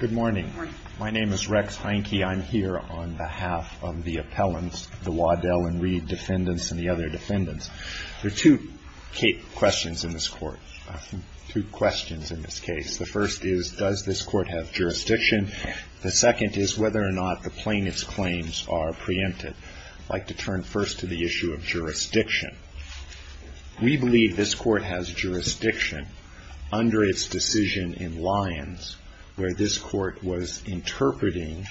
Good morning. My name is Rex Heinke. I'm here on behalf of the appellants, the Waddell and Reed defendants and the other defendants. There are two questions in this court. Two questions in this case. The first is, does this court have jurisdiction? The second is whether or not the plaintiff's claims are preempted. I'd like to turn first to the issue of jurisdiction. We believe this court has jurisdiction under its decision in Lyons where this court was interpreting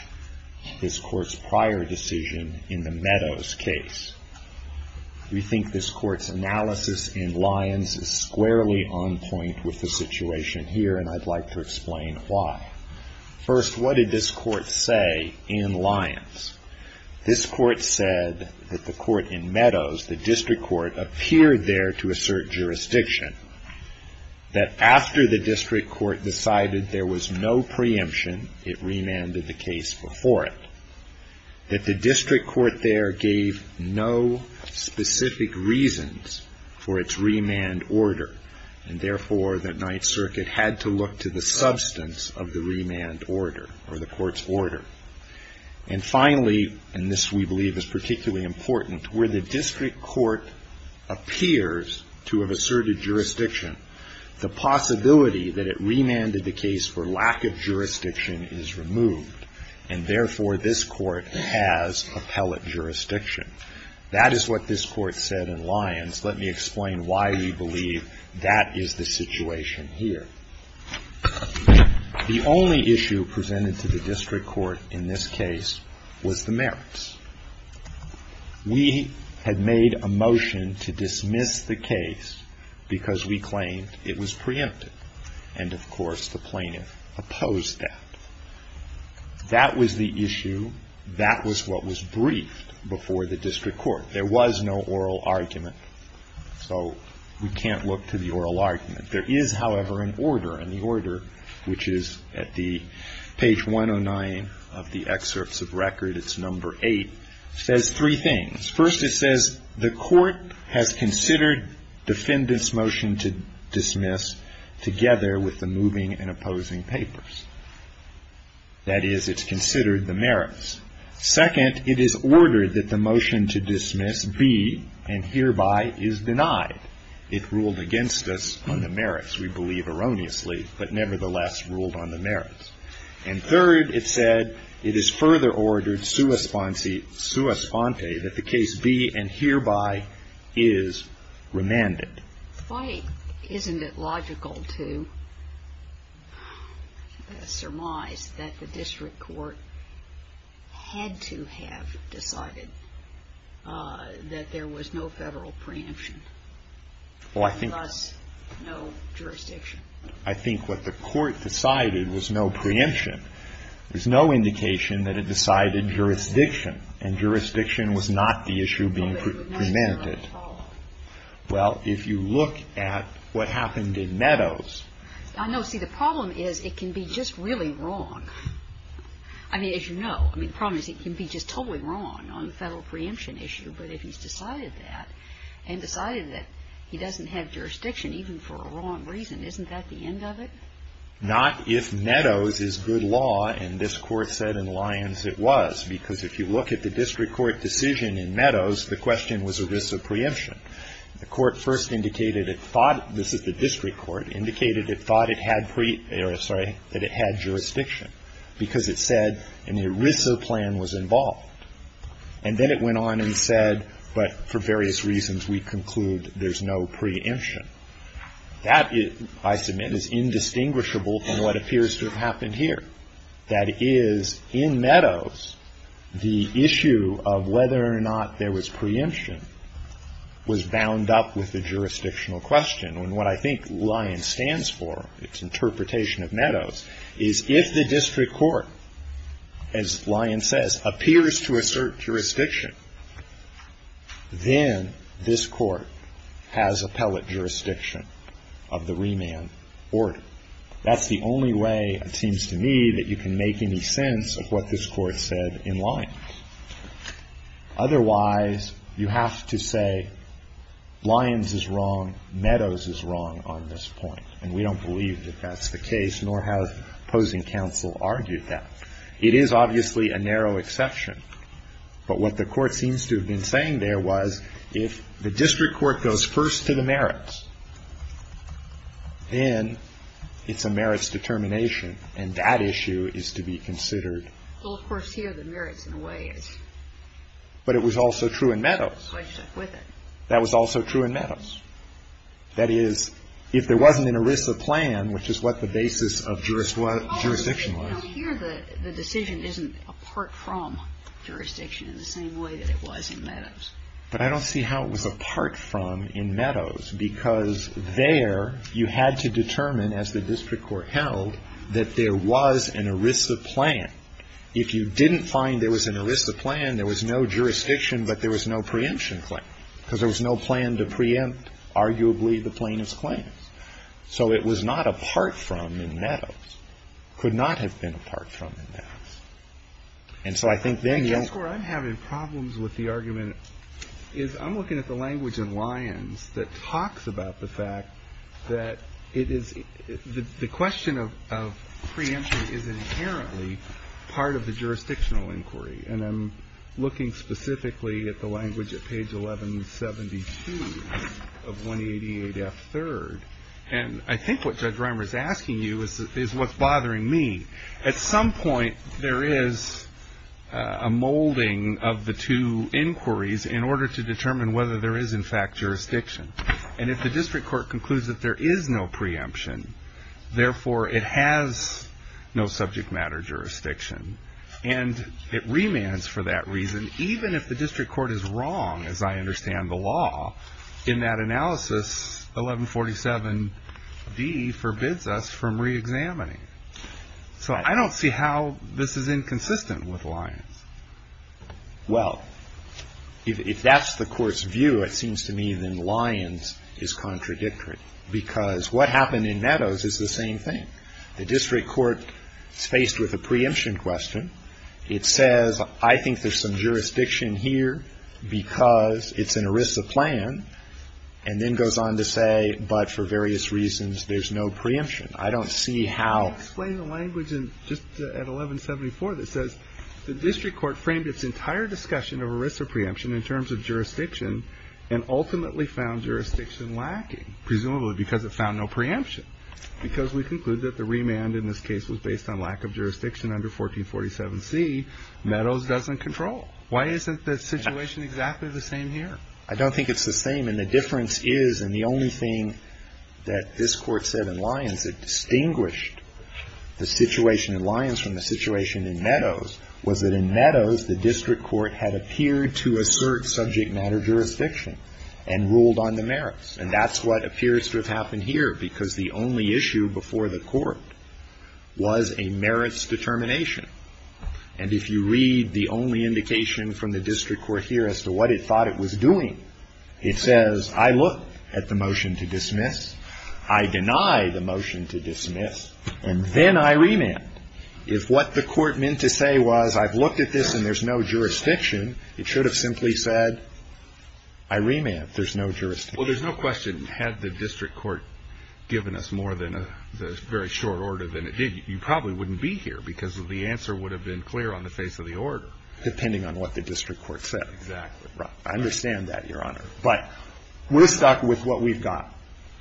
this court's prior decision in the Meadows case. We think this court's analysis in Lyons is squarely on point with the situation here and I'd like to explain why. First, what did this court say in Lyons? This court said that the court in Meadows, the district court, appeared there to assert jurisdiction. That after the district court decided there was no preemption, it remanded the case before it. That the district court there gave no specific reasons for its remand order. Therefore, the Ninth Circuit had to look to the substance of the remand order or the court's order. Finally, and this we believe is particularly important, where the district court appears to have asserted jurisdiction, the possibility that it remanded the case for lack of jurisdiction is removed and therefore this court has appellate jurisdiction. That is what this court said in Lyons. Let me explain why we believe that is the situation here. The only issue presented to the district court in this case was the merits. We had made a motion to dismiss the case because we claimed it was preempted and of course the plaintiff opposed that. That was the issue. That was what was briefed before the district court. There was no oral argument so we can't look to the oral argument. There is, however, an order and the order, which is at the page 109 of the excerpts of record, it's number 8, says three things. First it says the court has considered defendant's motion to dismiss together with the moving and opposing papers. That is, it's considered the merits. Second, it is ordered that the motion to dismiss be and hereby is denied. It ruled against us on the merits, we believe erroneously, but nevertheless ruled on the merits. And third, it said it is further ordered sua sponte that the case be and hereby is remanded. Why isn't it logical to surmise that the district court had to have decided that there was no Federal preemption? I think what the court decided was no preemption. There's no indication that it decided jurisdiction and jurisdiction was not the issue being prevented. Well, if you look at what happened in Meadows. I know. See, the problem is it can be just really wrong. I mean, as you know, I mean, the problem is it can be just totally wrong on the Federal preemption issue. But if he's decided that and decided that he doesn't have jurisdiction, even for a wrong reason, isn't that the end of it? Not if Meadows is good law, and this court said in Lyons it was, because if you look at the district court decision in Meadows, the question was ERISA preemption. The court first indicated it thought, this is the district court, indicated it thought it had pre, or sorry, that it had jurisdiction because it said an ERISA plan was involved. And then it went on and said, but for various reasons we conclude there's no preemption. That, I submit, is indistinguishable from what appears to have happened here. That is, in Meadows, the issue of whether or not there was preemption was bound up with the jurisdictional question. And what I think Lyons stands for, its interpretation of Meadows, is if the district court, as Lyons says, appears to assert jurisdiction, then this court has appellate jurisdiction of the remand order. That's the only way, it seems to me, that you can make any sense of what this court said in Lyons. Otherwise, you have to say Lyons is wrong, Meadows is wrong on this point. And we don't believe that that's the case, nor has opposing counsel argued that. It is obviously a narrow exception. But what the court seems to have been saying there was if the district court goes first to the merits, then it's a merits determination, and that issue is to be considered. Well, of course, here the merits in a way is. But it was also true in Meadows. So I stuck with it. That was also true in Meadows. That is, if there wasn't an ERISA plan, which is what the basis of jurisdiction was. But here the decision isn't apart from jurisdiction in the same way that it was in Meadows. But I don't see how it was apart from in Meadows, because there you had to determine, as the district court held, that there was an ERISA plan. If you didn't find there was an ERISA plan, there was no jurisdiction, but there was no preemption claim, because there was no plan to preempt, arguably, the plaintiff's claims. So it was not apart from in Meadows. Could not have been apart from in Meadows. And so I think then you have to. I guess where I'm having problems with the argument is I'm looking at the language in Lyons that talks about the fact that it is the question of preemption is inherently part of the jurisdictional inquiry. And I'm looking specifically at the language at page 1172 of 188F3rd. And I think what Judge Reimer is asking you is what's bothering me. At some point there is a molding of the two inquiries in order to determine whether there is, in fact, jurisdiction. And if the district court concludes that there is no preemption, therefore it has no subject matter jurisdiction. And it remands for that reason, even if the district court is wrong, as I understand the law, in that analysis 1147D forbids us from reexamining. So I don't see how this is inconsistent with Lyons. Well, if that's the court's view, it seems to me then Lyons is contradictory, because what happened in Meadows is the same thing. The district court is faced with a preemption question. It says, I think there's some jurisdiction here because it's an ERISA plan, and then goes on to say, but for various reasons there's no preemption. I don't see how ---- Can you explain the language just at 1174 that says the district court framed its entire discussion of ERISA preemption in terms of jurisdiction and ultimately found jurisdiction lacking, presumably because it found no preemption. Because we conclude that the remand in this case was based on lack of jurisdiction under 1447C, Meadows doesn't control. Why isn't the situation exactly the same here? I don't think it's the same. And the difference is, and the only thing that this Court said in Lyons that distinguished the situation in Lyons from the situation in Meadows was that in Meadows the district court had appeared to assert subject matter jurisdiction and ruled on the merits. And that's what appears to have happened here, because the only issue before the Court was a merits determination. And if you read the only indication from the district court here as to what it thought it was doing, it says, I look at the motion to dismiss, I deny the motion to dismiss, and then I remand. If what the Court meant to say was, I've looked at this and there's no jurisdiction, it should have simply said, I remand, there's no jurisdiction. Well, there's no question. Had the district court given us more than a very short order than it did, you probably wouldn't be here, because the answer would have been clear on the face of the order. Depending on what the district court said. Exactly. Right. I understand that, Your Honor. But we're stuck with what we've got.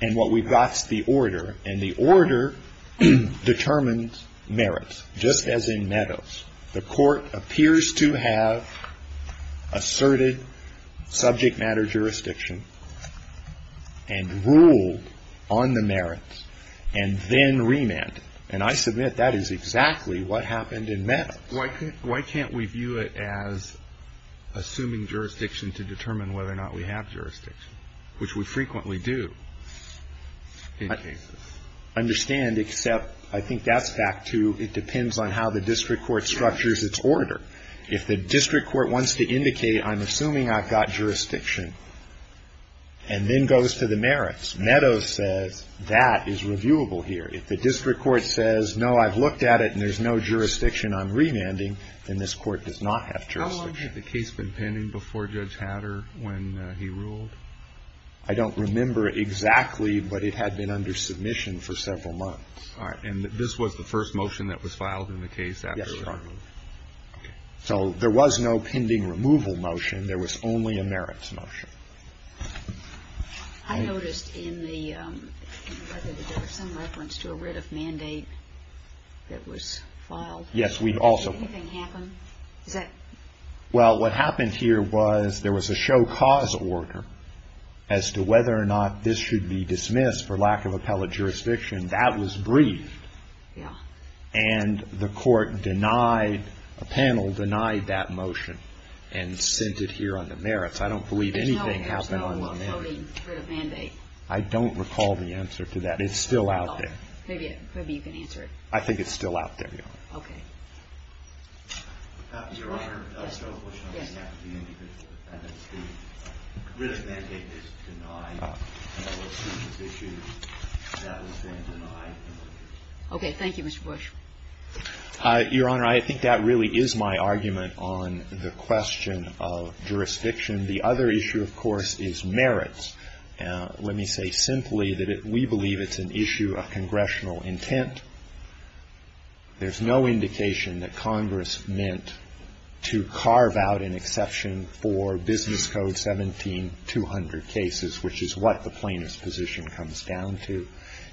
And what we've got is the order. And the order determines merits, just as in Meadows. The court appears to have asserted subject matter jurisdiction and ruled on the merits and then remanded. And I submit that is exactly what happened in Meadows. Why can't we view it as assuming jurisdiction to determine whether or not we have jurisdiction, which we frequently do in cases? I don't understand, except I think that's back to, it depends on how the district court structures its order. If the district court wants to indicate, I'm assuming I've got jurisdiction, and then goes to the merits, Meadows says, that is reviewable here. If the district court says, no, I've looked at it and there's no jurisdiction, I'm remanding, then this Court does not have jurisdiction. How long had the case been pending before Judge Hatter when he ruled? I don't remember exactly, but it had been under submission for several months. All right. And this was the first motion that was filed in the case? Yes, Your Honor. Okay. So there was no pending removal motion. There was only a merits motion. I noticed in the record that there was some reference to a writ of mandate that was filed. Yes, we also. Did anything happen? Well, what happened here was there was a show cause order as to whether or not this should be dismissed for lack of appellate jurisdiction. That was briefed. Yes. And the court denied, a panel denied that motion and sent it here on the merits. I don't believe anything happened on the merits. I don't recall the answer to that. It's still out there. Maybe you can answer it. I think it's still out there, Your Honor. Okay. Your Honor, I think that really is my argument on the question of jurisdiction. The other issue, of course, is merits. Let me say simply that we believe it's an issue of congressional intent. There's no indication that Congress meant to carve out an exception for Business Code 17-200 cases, which is what the plaintiff's position comes down to.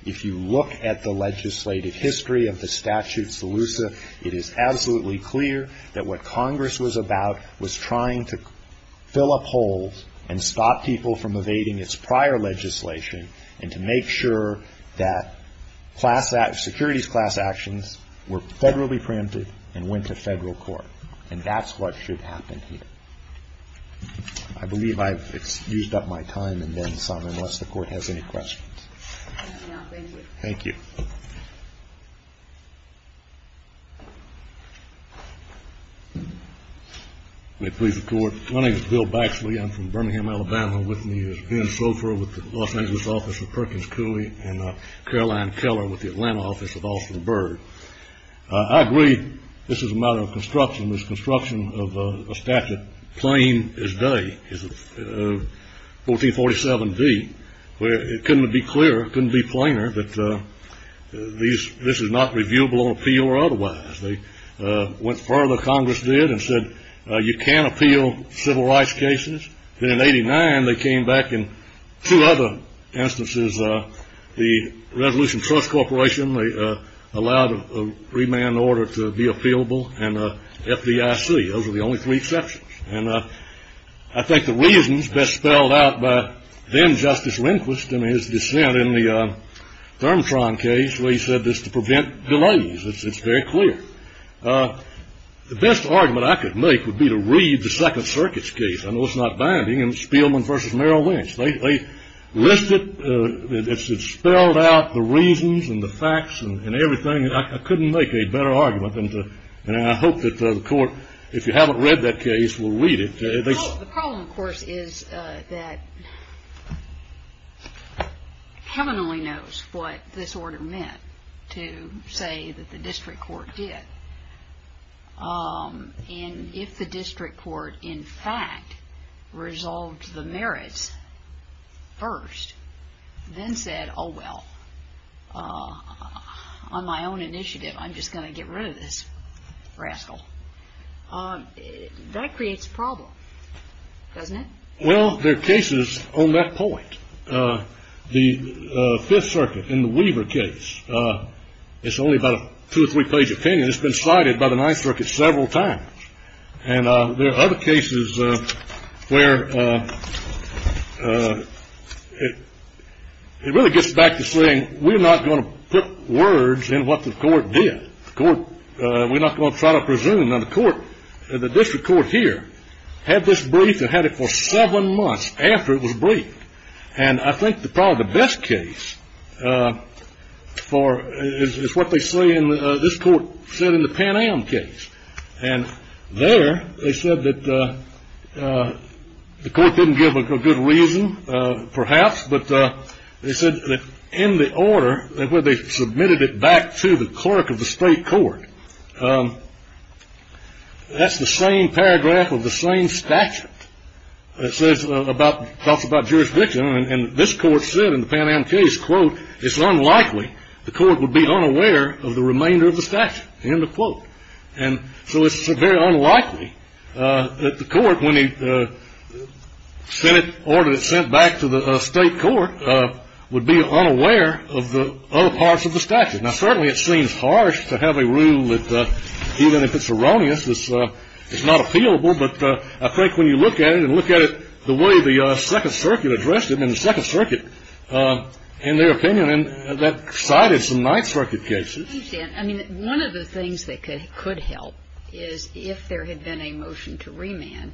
If you look at the legislative history of the statute's elusive, it is absolutely clear that what Congress was about was trying to fill up holes and stop people from evading its prior legislation and to make sure that class actions, securities class actions, were federally preempted and went to federal court. And that's what should happen here. I believe I've used up my time and then some, unless the Court has any questions. No, thank you. Thank you. May it please the Court. My name is Bill Baxley. I'm from Birmingham, Alabama. With me is Ben Sofer with the Los Angeles office of Perkins Cooley and Caroline Keller with the Atlanta office of Austin Bird. I agree this is a matter of construction. This construction of a statute, plain as day, is 1447d, where it couldn't be clearer, couldn't be plainer, that this is not reviewable on appeal or otherwise. They went further, Congress did, and said you can appeal civil rights cases. Then in 89, they came back in two other instances, the Resolution Trust Corporation, they allowed a remand order to be appealable, and FDIC. Those were the only three exceptions. And I think the reasons best spelled out by then-Justice Lindquist and his dissent in the Thermotron case where he said this to prevent delays, it's very clear. The best argument I could make would be to read the Second Circuit's case. I know it's not binding. It's Spielman v. Merrill Winch. They list it. It's spelled out, the reasons and the facts and everything. I couldn't make a better argument. And I hope that the court, if you haven't read that case, will read it. The problem, of course, is that heaven only knows what this order meant to say that the district court did. And if the district court, in fact, resolved the merits first, then said, oh, well, on my own initiative, I'm just going to get rid of this rascal, that creates a problem, doesn't it? Well, there are cases on that point. The Fifth Circuit in the Weaver case, it's only about a two- or three-page opinion. It's been cited by the Ninth Circuit several times. And there are other cases where it really gets back to saying we're not going to put words in what the court did. We're not going to try to presume that the district court here had this brief and had it for seven months after it was briefed. And I think probably the best case is what this court said in the Pan Am case. And there they said that the court didn't give a good reason, perhaps, but they said that in the order where they submitted it back to the clerk of the state court, that's the same paragraph of the same statute that talks about jurisdiction. And this court said in the Pan Am case, quote, it's unlikely the court would be unaware of the remainder of the statute, end of quote. And so it's very unlikely that the court, when it sent it back to the state court, would be unaware of the other parts of the statute. Now, certainly it seems harsh to have a rule that even if it's erroneous, it's not appealable. But I think when you look at it and look at it the way the Second Circuit addressed it, and the Second Circuit, in their opinion, that cited some Ninth Circuit cases. I mean, one of the things that could help is if there had been a motion to remand,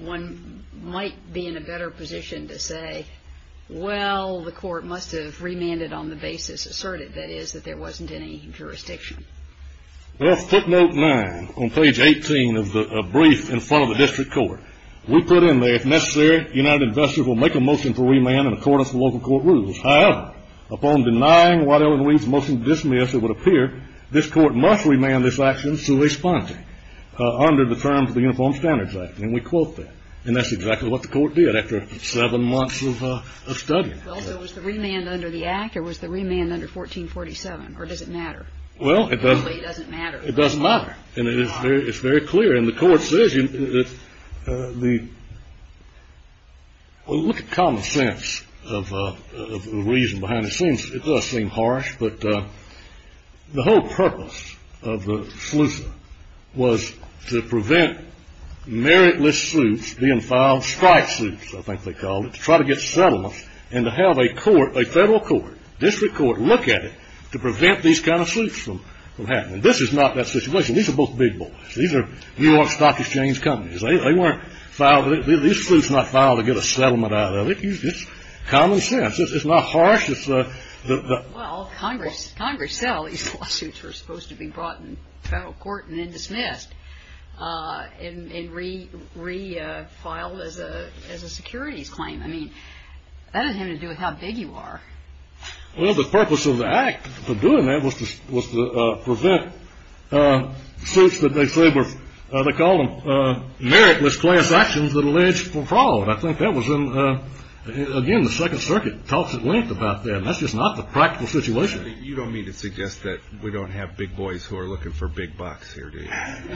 one might be in a better position to say, well, the court must have remanded on the basis asserted, that is, that there wasn't any jurisdiction. Well, footnote 9 on page 18 of the brief in front of the district court. We put in there, if necessary, United Investors will make a motion to remand in accordance with local court rules. However, upon denying Waddell and Reed's motion to dismiss, it would appear this court must remand this action sui sponte under the terms of the Uniform Standards Act. And we quote that. And that's exactly what the court did after seven months of studying. Well, so was the remand under the act or was the remand under 1447, or does it matter? Well, it doesn't. It really doesn't matter. It doesn't matter. And it's very clear. And the court says, well, look at common sense of the reason behind it. It does seem harsh, but the whole purpose of the SLEUSA was to prevent meritless sleuths being filed, strike sleuths, I think they called it, to try to get settlements and to have a court, a federal court, district court, look at it to prevent these kind of sleuths from happening. This is not that situation. These are both big boys. These are New York Stock Exchange companies. They weren't filed. These sleuths were not filed to get a settlement out of it. It's common sense. It's not harsh. Well, Congress said all these lawsuits were supposed to be brought in federal court and then dismissed and re-filed as a securities claim. I mean, that doesn't have anything to do with how big you are. Well, the purpose of the act for doing that was to prevent suits that they say were, they called them, meritless class actions that alleged fraud. I think that was in, again, the Second Circuit talks at length about that. That's just not the practical situation. You don't mean to suggest that we don't have big boys who are looking for big bucks here, do you? Well,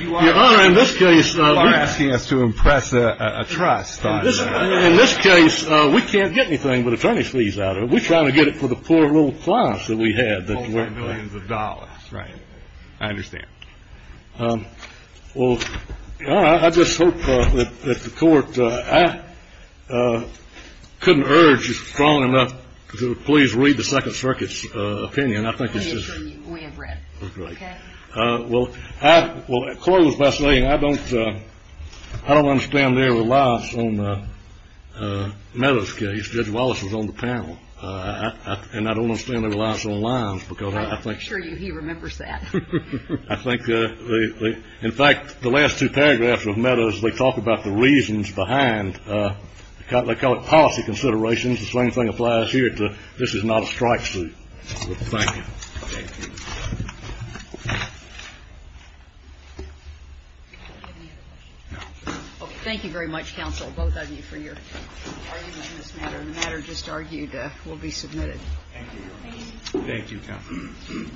Your Honor, in this case. You are asking us to impress a trust on them. In this case, we can't get anything but attorneys' fees out of it. We're trying to get it for the poor little class that we had. All for millions of dollars. Right. I understand. Well, Your Honor, I just hope that the court, I couldn't urge strong enough to please read the Second Circuit's opinion. I think it's just. We have read. Okay. Well, Coyle was fascinating. I don't understand their reliance on Meadows' case. Judge Wallace was on the panel. And I don't understand their reliance on Lyons because I think. I'm sure he remembers that. I think. In fact, the last two paragraphs of Meadows, they talk about the reasons behind. They call it policy considerations. The same thing applies here to this is not a strike suit. Thank you. Thank you. Thank you very much, counsel, both of you, for your argument on this matter. Thank you. Thank you, counsel.